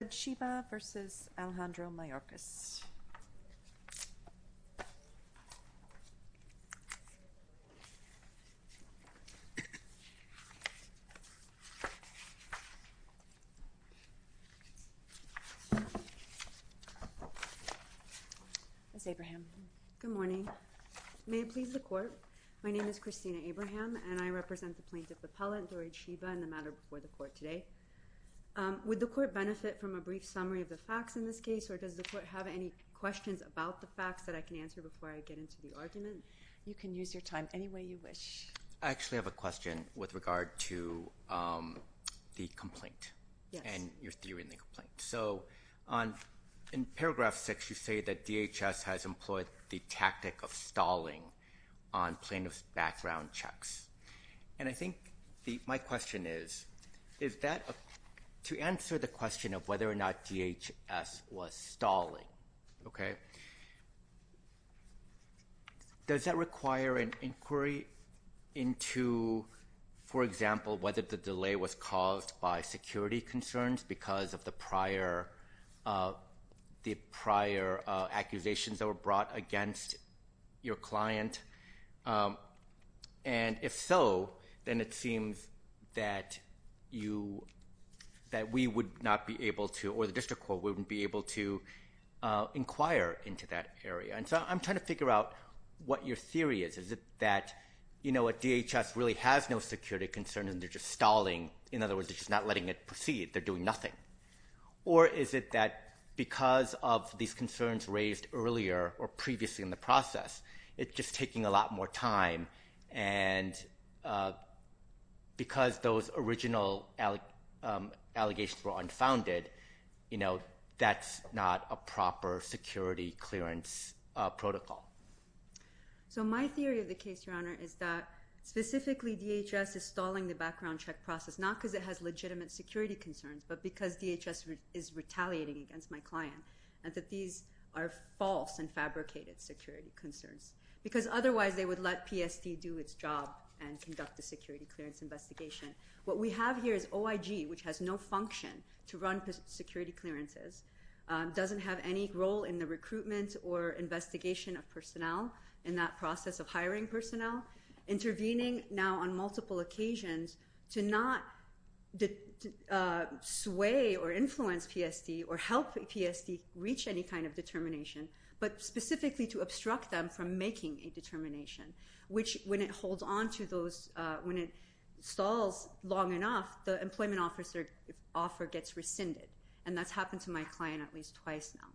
Good morning. May it please the Court, my name is Christina Abraham and I represent the Plaintiff Appellate, Dored Shiba, in the matter before the Court today. Would the Court benefit from a brief summary of the facts in this case, or does the Court have any questions about the facts that I can answer before I get into the argument? You can use your time any way you wish. I actually have a question with regard to the complaint and your theory in the complaint. So in paragraph 6 you say that DHS has employed the tactic of stalling on plaintiff's background checks. And I think my question is, to answer the question of whether or not DHS was stalling, does that require an inquiry into, for example, whether the delay was caused by security concerns because of the prior accusations that were brought against your client? And if so, then it seems that you, that we would not be able to, or the District Court wouldn't be able to inquire into that area. And so I'm trying to figure out what your theory is. Is it that, you know, DHS really has no security concerns and they're just stalling, in other words they're just not letting it proceed, they're doing nothing? Or is it that because of these concerns raised earlier or previously in the process, it's just taking a lot more time and because those original allegations were unfounded, you know, that's not a proper security clearance protocol? So my theory of the case, Your Honor, is that specifically DHS is stalling the background check process, not because it has legitimate security concerns, but because DHS is retaliating against my client, and that these are false and fabricated security concerns. Because otherwise they would let PSD do its job and conduct a security clearance investigation. What we have here is OIG, which has no function to run security clearances, doesn't have any role in the recruitment or investigation of personnel in that process of hiring personnel, intervening now on multiple occasions to not sway or influence PSD or help PSD reach any kind of determination, but specifically to obstruct them from making a determination, which when it holds on to those, when it stalls long enough, the employment offer gets rescinded. And that's happened to my client at least twice now.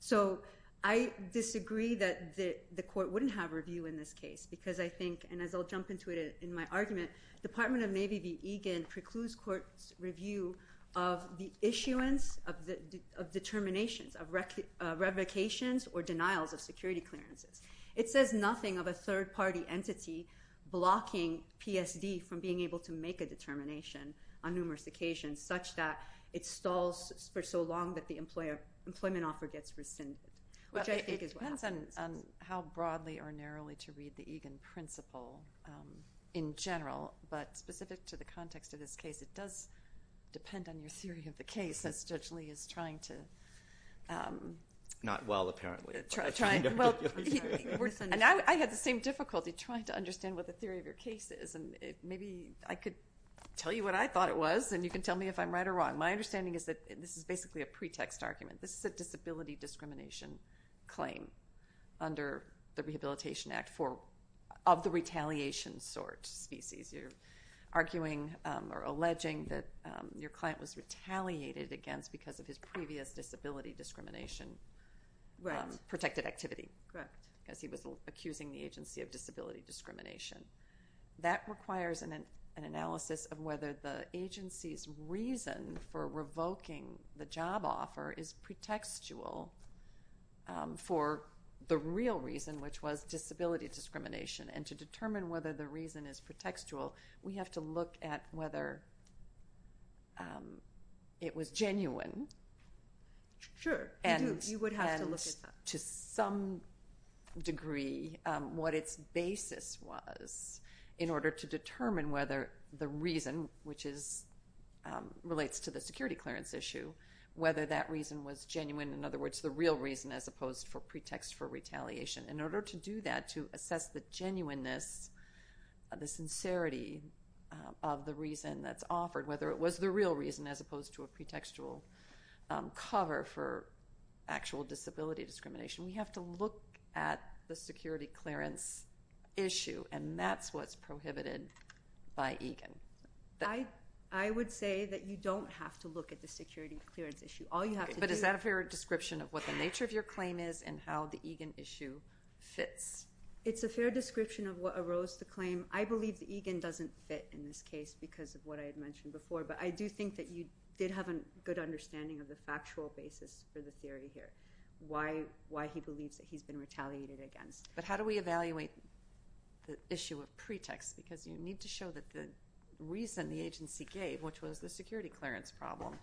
So I disagree that the court wouldn't have review in this case, because I think, and as I'll jump into it in my argument, Department of Navy v. Egan precludes court's review of the issuance of determinations, of revocations or denials of security clearances. It says nothing of a third-party entity blocking PSD from being able to make a determination on numerous occasions such that it stalls for so long that the employment offer gets rescinded, which I think is what happens. It depends on how broadly or narrowly to read the Egan principle in general, but specific to the context of this case, it does depend on your theory of the case, as Judge Lee is trying to... Not well, apparently, but I'm trying to articulate it. And I had the same difficulty trying to understand what the theory of your case is, and maybe I could tell you what I thought it was, and you can tell me if I'm right or wrong. My understanding is that this is basically a pretext argument. This is a disability discrimination claim under the Rehabilitation Act of the retaliation sort, species. You're arguing or alleging that your client was retaliated against because of his previous disability discrimination protected activity, as he was accusing the agency of disability discrimination. That requires an analysis of whether the agency's reason for revoking the job offer is pretextual for the real reason, which was disability discrimination. And to determine whether the reason is pretextual, we have to look at whether it was genuine. Sure, you would have to look at that. To some degree, what its basis was in order to determine whether the reason, which relates to the security clearance issue, whether that reason was genuine. In other words, the real reason as opposed to pretext for retaliation. In order to do that, to assess the genuineness, the sincerity of the reason that's offered, whether it was the real reason as opposed to a pretextual cover for actual disability discrimination, we have to look at the security clearance issue, and that's what's prohibited by EGAN. I would say that you don't have to look at the security clearance issue. All you have to do... Is that a fair description of what the nature of your claim is and how the EGAN issue fits? It's a fair description of what arose the claim. I believe that EGAN doesn't fit in this case because of what I had mentioned before, but I do think that you did have a good understanding of the factual basis for the theory here, why he believes that he's been retaliated against. But how do we evaluate the issue of pretext? Because you need to show that the reason the agency gave, which was the security clearance problem,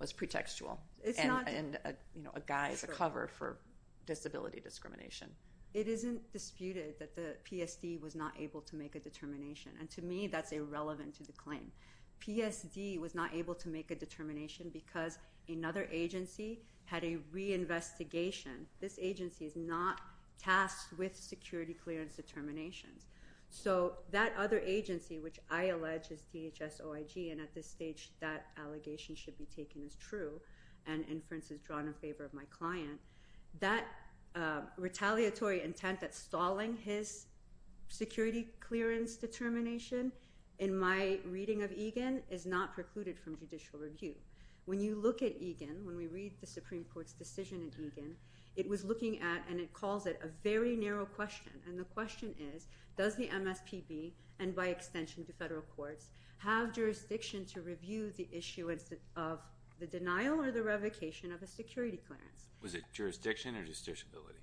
was pretextual. It's not... And a guise, a cover for disability discrimination. It isn't disputed that the PSD was not able to make a determination, and to me that's irrelevant to the claim. PSD was not able to make a determination because another agency had a reinvestigation. This agency is not tasked with security clearance determinations. So that other agency, which I allege is DHS OIG, and at this stage that allegation should be taken as true, and inference is drawn in favor of my client, that retaliatory intent that's stalling his security clearance determination, in my reading of EGAN, is not precluded from judicial review. When you look at EGAN, when we read the Supreme Court's decision in EGAN, it was looking at, and it calls it, a very narrow question. And the question is, does the MSPB, and by extension to federal courts, have jurisdiction to review the issuance of the denial or the revocation of a security clearance? Was it jurisdiction or justiciability?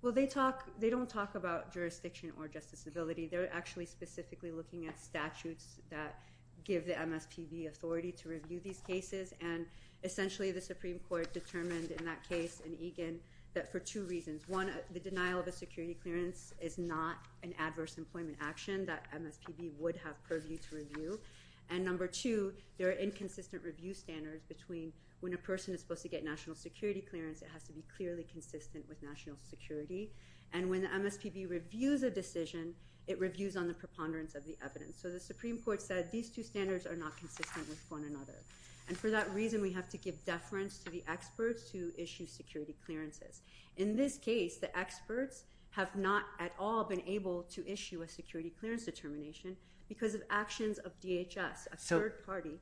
Well, they don't talk about jurisdiction or justiciability. They're actually specifically looking at statutes that give the MSPB authority to review these cases, and essentially the Supreme Court determined in that case, in EGAN, that for two reasons. One, the denial of a security clearance is not an adverse employment action that MSPB would have purview to review, and number two, there are inconsistent review standards between when a person is supposed to get national security clearance, it has to be clearly consistent with national security, and when the MSPB reviews a decision, it reviews on the preponderance of the evidence. So the Supreme Court said these two standards are not consistent with one another, and for that reason we have to give deference to the experts who issue security clearances. In this case, the experts have not at all been able to issue a security clearance determination because of actions of DHS, a third party.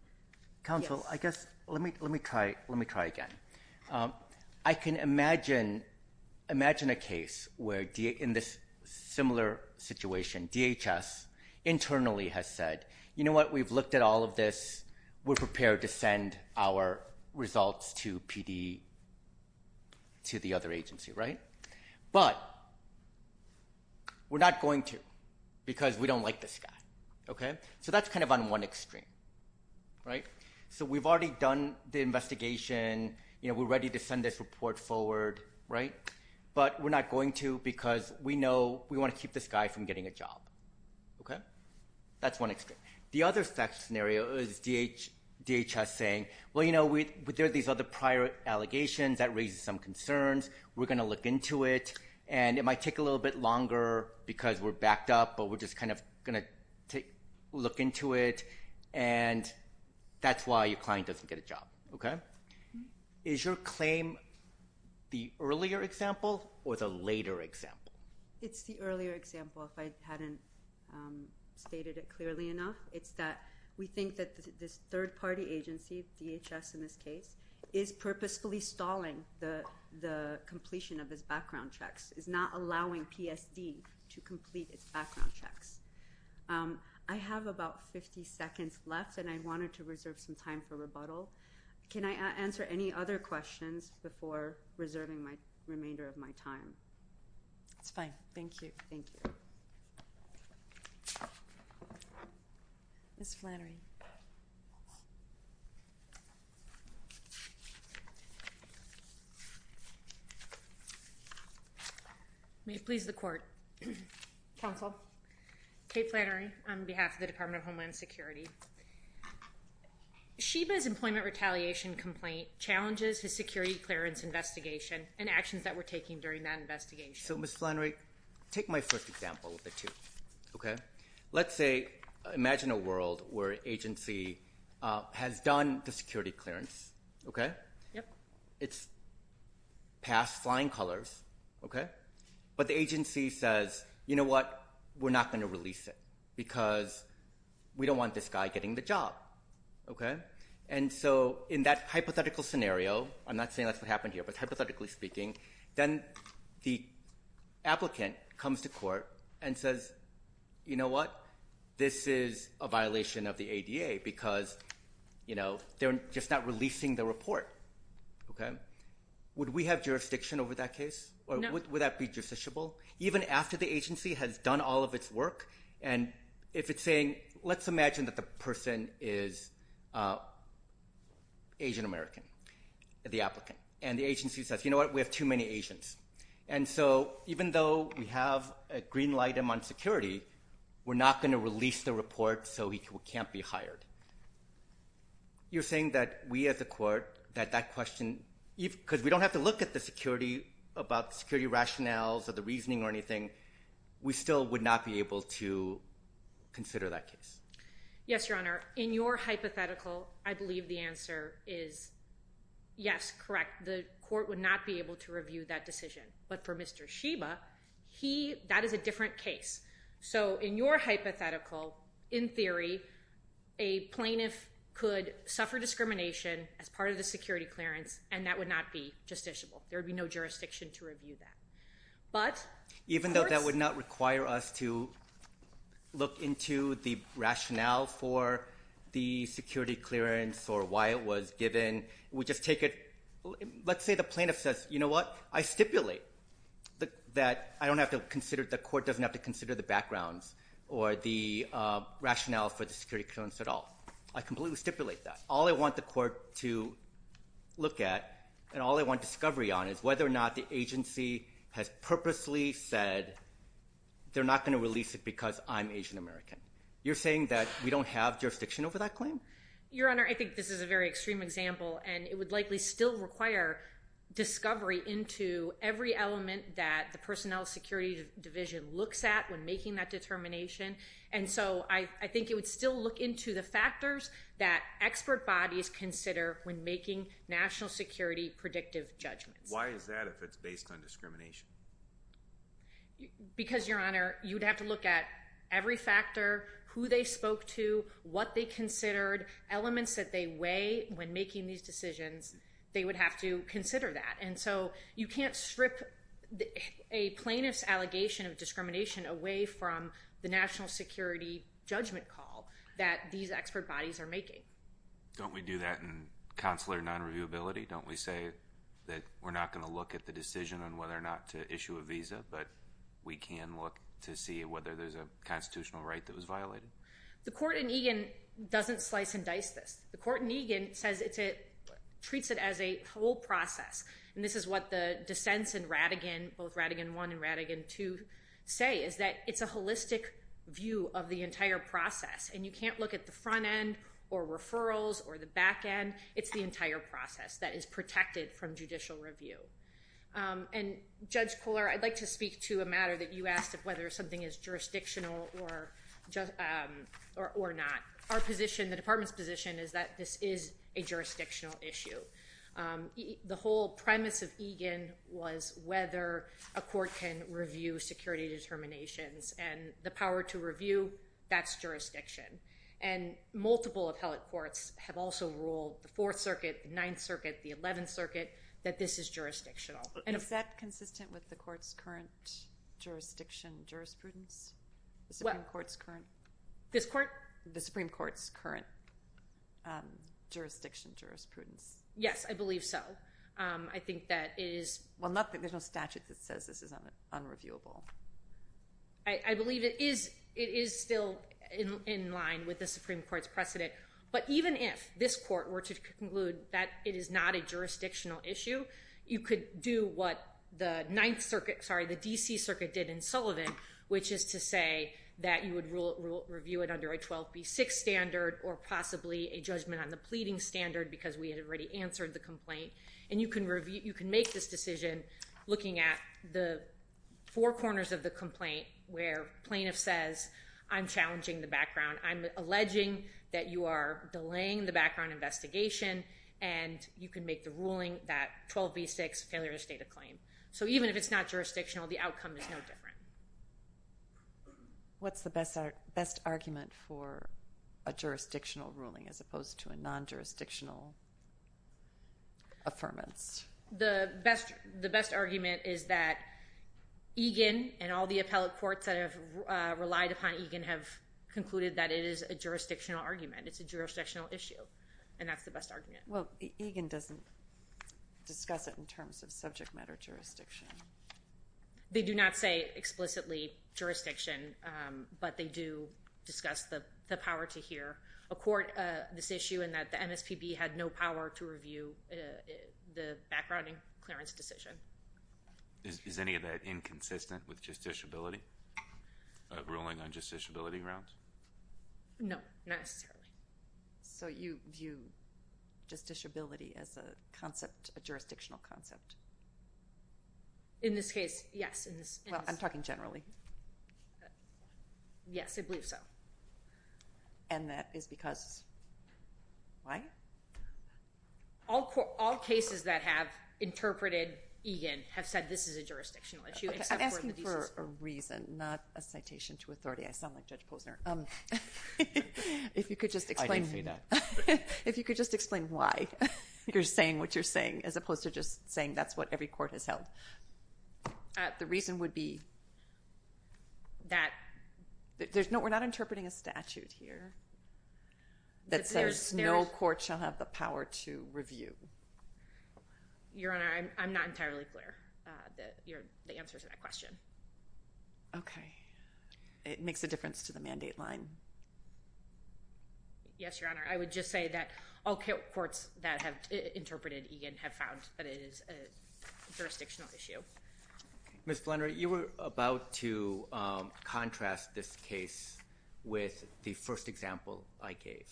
Counsel, I guess, let me try again. I can imagine a case where in this similar situation, DHS internally has said, you know what, we've looked at all of this, we're prepared to send our results to PD, to the other agency, right? But we're not going to because we don't like this guy, okay? So that's kind of on one extreme, right? So we've already done the investigation, you know, we're ready to send this report forward, right? But we're not going to because we know we want to keep this guy from getting a job, okay? That's one extreme. The other scenario is DHS saying, well, you know, there are these other prior allegations that raise some concerns, we're going to look into it, and it might take a little bit longer because we're backed up, but we're just kind of going to look into it, and that's why your client doesn't get a job, okay? Is your claim the earlier example or the later example? It's the earlier example, if I hadn't stated it clearly enough. It's that we think that this third-party agency, DHS in this case, is purposefully stalling the completion of his background checks, is not allowing PSD to complete its background checks. I have about 50 seconds left, and I wanted to reserve some time for rebuttal. Can I answer any other questions before reserving the remainder of my time? That's fine. Thank you. Thank you. Ms. Flannery. May it please the Court. Counsel. Kate Flannery on behalf of the Department of Homeland Security. Sheba's employment retaliation complaint challenges his security clearance investigation and actions that were taken during that investigation. So Ms. Flannery, take my first example of the two, okay? Let's say, imagine a world where an agency has done the security clearance, okay? Yep. It's passed flying colors, okay? But the agency says, you know what, we're not going to release it because we don't want this guy getting the job, okay? And so in that hypothetical scenario, I'm not saying that's what happened here, but hypothetically speaking, then the applicant comes to court and says, you know what, this is a violation of the ADA because, you know, they're just not releasing the report, okay? Would we have jurisdiction over that case? No. Would that be justiciable? Even after the agency has done all of its work and if it's saying, let's imagine that the person is Asian American, the applicant, and the agency says, you know what, we have too many Asians. And so even though we have a green light on security, we're not going to release the report so he can't be hired. You're saying that we at the court, that that question, because we don't have to look at the security, about the security rationales or the reasoning or anything, we still would not be able to consider that case? Yes, Your Honor. In your hypothetical, I believe the answer is yes, correct. The court would not be able to review that decision. But for Mr. Sheba, he, that is a different case. So in your hypothetical, in theory, a plaintiff could suffer discrimination as part of the case. That would be justiciable. There would be no jurisdiction to review that. Even though that would not require us to look into the rationale for the security clearance or why it was given, we just take it, let's say the plaintiff says, you know what, I stipulate that I don't have to consider, the court doesn't have to consider the backgrounds or the rationale for the security clearance at all. I completely stipulate that. All I want the court to look at and all I want discovery on is whether or not the agency has purposely said they're not going to release it because I'm Asian American. You're saying that we don't have jurisdiction over that claim? Your Honor, I think this is a very extreme example and it would likely still require discovery into every element that the Personnel Security Division looks at when making that determination. And so I think it would still look into the factors that expert bodies consider when making national security predictive judgments. Why is that if it's based on discrimination? Because, Your Honor, you'd have to look at every factor, who they spoke to, what they considered, elements that they weigh when making these decisions. They would have to consider that. And so you can't strip a plaintiff's allegation of discrimination away from the national security judgment call that these expert bodies are making. Don't we do that in consular non-reviewability? Don't we say that we're not going to look at the decision on whether or not to issue a visa, but we can look to see whether there's a constitutional right that was violated? The court in Egan doesn't slice and dice this. The court in Egan says it treats it as a whole process. And this is what the dissents in Rattigan, both Rattigan 1 and Rattigan 2, say is that it's a holistic view of the entire process and you can't look at the front end or referrals or the back end. It's the entire process that is protected from judicial review. And, Judge Kohler, I'd like to speak to a matter that you asked of whether something is jurisdictional or not. Our position, the department's position, is that this is a jurisdictional issue. The whole premise of Egan was whether a court can review security determinations and the power to review, that's jurisdiction. And multiple appellate courts have also ruled the Fourth Circuit, the Ninth Circuit, the Eleventh Circuit, that this is jurisdictional. Is that consistent with the Supreme Court's current jurisdiction jurisprudence? Yes, I believe so. Well, there's no statute that says this is unreviewable. I believe it is still in line with the Supreme Court's precedent. But even if this court were to conclude that it is not a jurisdictional issue, you could do what the Ninth Circuit, sorry, the D.C. Circuit did in Sullivan, which is to say that you would review it under a 12B6 standard or possibly a judgment on the pleading standard because we had already answered the complaint, and you can make this decision looking at the four corners of the complaint where plaintiff says, I'm challenging the background, I'm alleging that you are delaying the background investigation, and you can make the ruling that 12B6, failure to state a claim. So even if it's not jurisdictional, the outcome is no different. What's the best argument for a jurisdictional ruling as opposed to a non-jurisdictional affirmance? The best argument is that Egan and all the appellate courts that have relied upon Egan have concluded that it is a jurisdictional argument. It's a jurisdictional issue, and that's the best argument. Well, Egan doesn't discuss it in terms of subject matter jurisdiction. They do not say explicitly jurisdiction, but they do discuss the power to hear a court this issue and that the MSPB had no power to review the backgrounding clearance decision. Is any of that inconsistent with justiciability, a ruling on justiciability grounds? No, not necessarily. So you view justiciability as a concept, a jurisdictional concept? In this case, yes. Well, I'm talking generally. Yes, I believe so. And that is because why? All cases that have interpreted Egan have said this is a jurisdictional issue. I'm asking for a reason, not a citation to authority. I sound like Judge Posner. I didn't say that. If you could just explain why you're saying what you're saying as opposed to just saying that's what every court has held. The reason would be that... We're not interpreting a statute here that says no court shall have the power to review. Your Honor, I'm not entirely clear. The answer to that question. Okay. It makes a difference to the mandate line. Yes, Your Honor. I would just say that all courts that have interpreted Egan have found that it is a jurisdictional issue. Ms. Blunder, you were about to contrast this case with the first example I gave.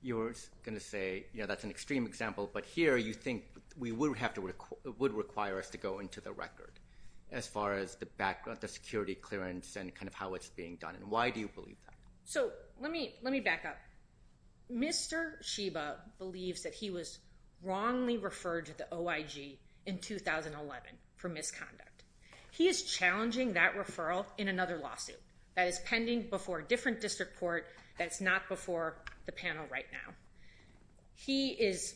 You were going to say, you know, that's an extreme example, but here you think it would require us to go into the record as far as the background, the security clearance, and kind of how it's being done. And why do you believe that? So let me back up. Mr. Sheba believes that he was wrongly referred to the OIG in 2011 for misconduct. He is challenging that referral in another lawsuit that is pending before a different district court that's not before the panel right now. He is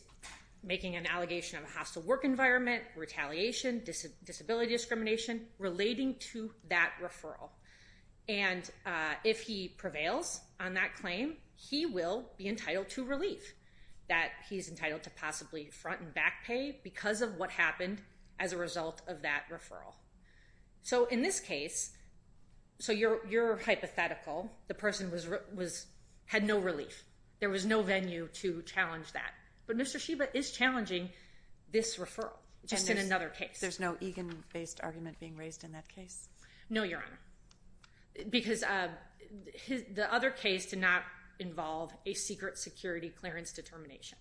making an allegation of a hostile work environment, retaliation, disability discrimination, relating to that referral. And if he prevails on that claim, he will be entitled to relief, that he's entitled to possibly front and back pay because of what happened as a result of that referral. So in this case, so you're hypothetical. The person had no relief. There was no venue to challenge that. But Mr. Sheba is challenging this referral, just in another case. There's no Egan-based argument being raised in that case? No, Your Honor, because the other case did not involve a secret security clearance determination.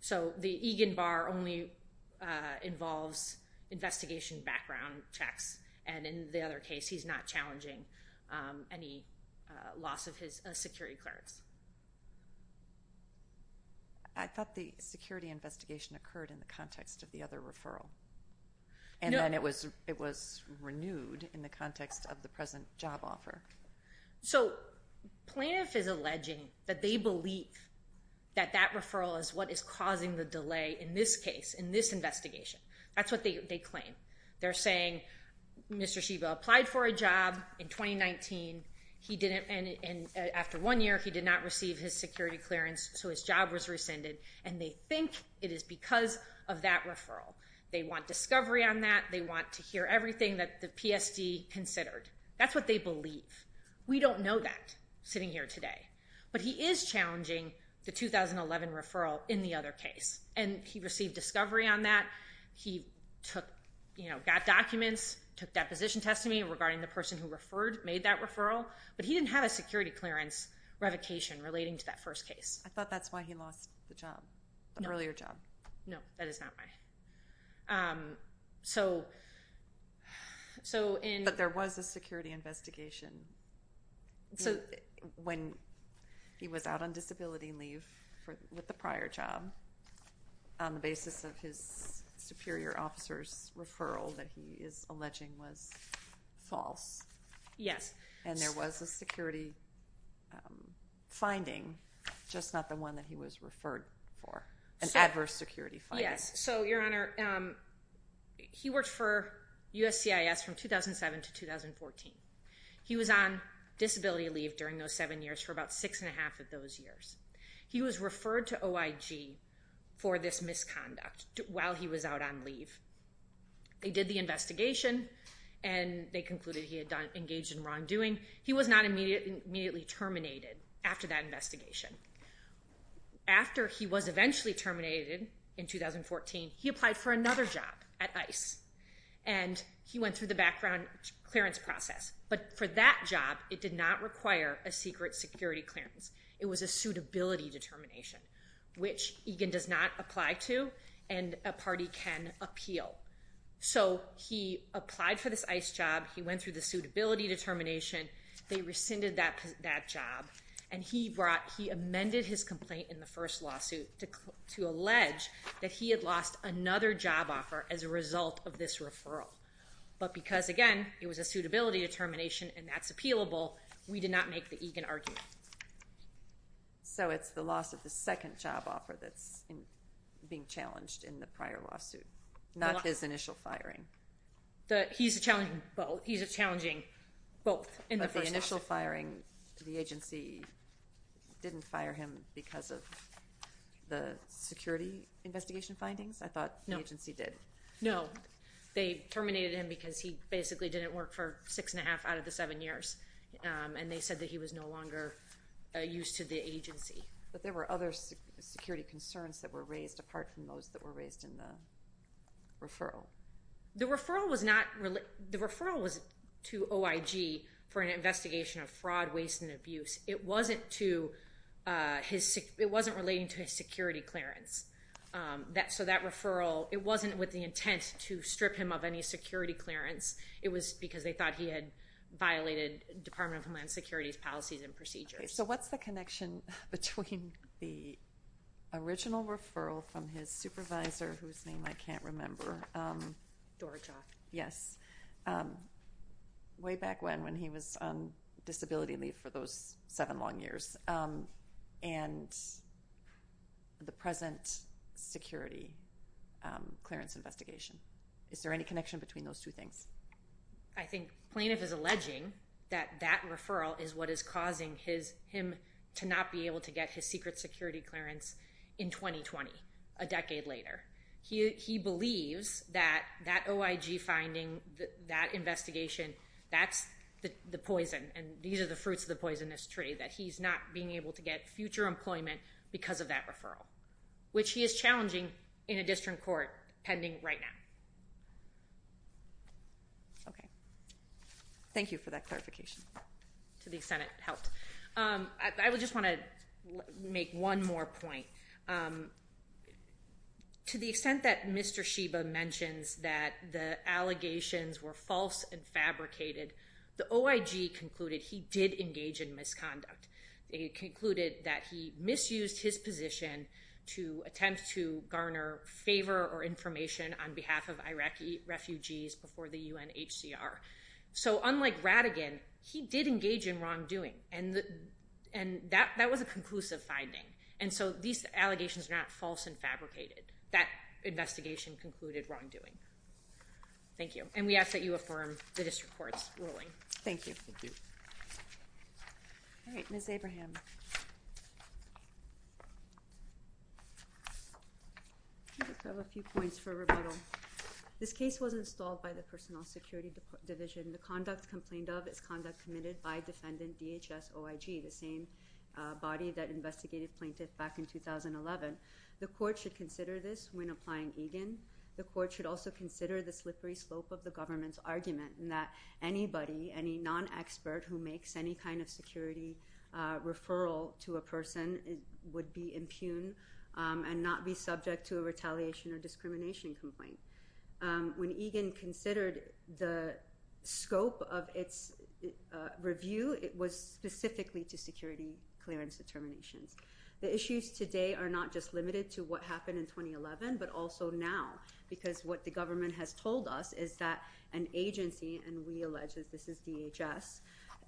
So the Egan bar only involves investigation background checks. And in the other case, he's not challenging any loss of his security clearance. I thought the security investigation occurred in the context of the other referral. And then it was renewed in the context of the present job offer. So plaintiff is alleging that they believe that that referral is what is causing the delay in this case, in this investigation. That's what they claim. They're saying Mr. Sheba applied for a job in 2019. He didn't, and after one year, he did not receive his security clearance, so his job was rescinded. And they think it is because of that referral. They want discovery on that. They want to hear everything that the PSD considered. That's what they believe. We don't know that, sitting here today. But he is challenging the 2011 referral in the other case. And he received discovery on that. He got documents, took deposition testimony regarding the person who made that referral. But he didn't have a security clearance revocation relating to that first case. I thought that's why he lost the job, the earlier job. No, that is not why. But there was a security investigation when he was out on disability leave with the prior job on the basis of his superior officer's referral that he is alleging was false. Yes. And there was a security finding, just not the one that he was referred for, an adverse security finding. Yes. So, Your Honor, he worked for USCIS from 2007 to 2014. He was on disability leave during those seven years for about six and a half of those years. He was referred to OIG for this misconduct while he was out on leave. They did the investigation, and they concluded he had engaged in wrongdoing. He was not immediately terminated after that investigation. After he was eventually terminated in 2014, he applied for another job at ICE, and he went through the background clearance process. But for that job, it did not require a secret security clearance. It was a suitability determination, which EGAN does not apply to, and a party can appeal. So he applied for this ICE job. He went through the suitability determination. They rescinded that job, and he amended his complaint in the first lawsuit to allege that he had lost another job offer as a result of this referral. But because, again, it was a suitability determination and that's appealable, we did not make the EGAN argument. So it's the loss of the second job offer that's being challenged in the prior lawsuit, not his initial firing. He's challenging both. He's challenging both in the first lawsuit. But the initial firing, the agency didn't fire him because of the security investigation findings? I thought the agency did. No. They terminated him because he basically didn't work for six and a half out of the seven years, and they said that he was no longer used to the agency. But there were other security concerns that were raised apart from those that were raised in the referral? The referral was to OIG for an investigation of fraud, waste, and abuse. It wasn't relating to his security clearance. So that referral, it wasn't with the intent to strip him of any security clearance. It was because they thought he had violated Department of Homeland Security's policies and procedures. Okay, so what's the connection between the original referral from his supervisor, whose name I can't remember, way back when, when he was on disability leave for those seven long years, and the present security clearance investigation? Is there any connection between those two things? I think Plaintiff is alleging that that referral is what is causing him to not be able to get his secret security clearance in 2020, a decade later. He believes that that OIG finding, that investigation, that's the poison, and these are the fruits of the poisonous tree, that he's not being able to get future employment because of that referral, which he is challenging in a district court pending right now. Okay. Thank you for that clarification. To the extent it helped. I just want to make one more point. To the extent that Mr. Sheba mentions that the allegations were false and fabricated, the OIG concluded he did engage in misconduct. They concluded that he misused his position to attempt to garner favor or information on behalf of Iraqi refugees before the UNHCR. So unlike Rattigan, he did engage in wrongdoing, and that was a conclusive finding. And so these allegations are not false and fabricated. That investigation concluded wrongdoing. Thank you. And we ask that you affirm the district court's ruling. Thank you. All right. Ms. Abraham. I just have a few points for rebuttal. This case was installed by the Personnel Security Division. The conduct complained of is conduct committed by defendant DHS OIG, the same body that investigated plaintiff back in 2011. The court should consider this when applying Egan. The court should also consider the slippery slope of the government's argument that anybody, any non-expert who makes any kind of security referral to a person, would be impugned and not be subject to a retaliation or discrimination complaint. When Egan considered the scope of its review, it was specifically to security clearance determinations. The issues today are not just limited to what happened in 2011, but also now, because what the government has told us is that an agency, and we allege that this is DHS,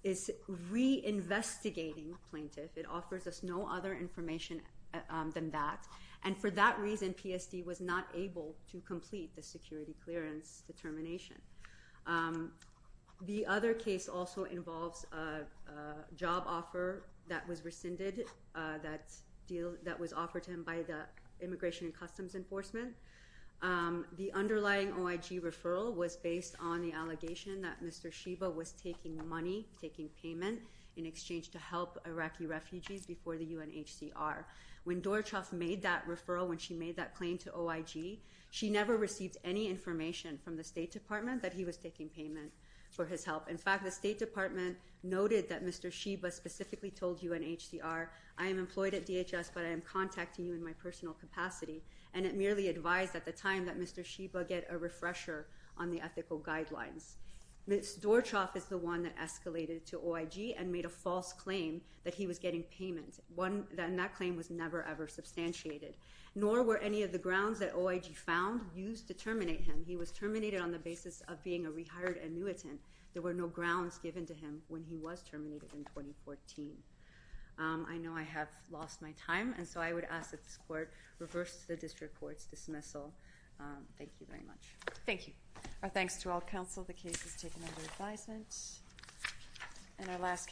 is reinvestigating plaintiff. It offers us no other information than that. And for that reason, PSD was not able to complete the security clearance determination. The other case also involves a job offer that was rescinded, that was offered to him by the Immigration and Customs Enforcement. The underlying OIG referral was based on the allegation that Mr. Sheba was taking money, taking payment, in exchange to help Iraqi refugees before the UNHCR. When Dorochev made that referral, when she made that claim to OIG, she never received any information from the State Department that he was taking payment for his help. In fact, the State Department noted that Mr. Sheba specifically told UNHCR, I am employed at DHS, but I am contacting you in my personal capacity. And it merely advised at the time that Mr. Sheba get a refresher on the ethical guidelines. Ms. Dorochev is the one that escalated to OIG and made a false claim that he was getting payment. And that claim was never, ever substantiated. Nor were any of the grounds that OIG found used to terminate him. He was terminated on the basis of being a rehired annuitant. There were no grounds given to him when he was terminated in 2014. I know I have lost my time, and so I would ask that this court reverse the district court's dismissal. Thank you very much. Thank you. Our thanks to all counsel. The case is taken under advisement.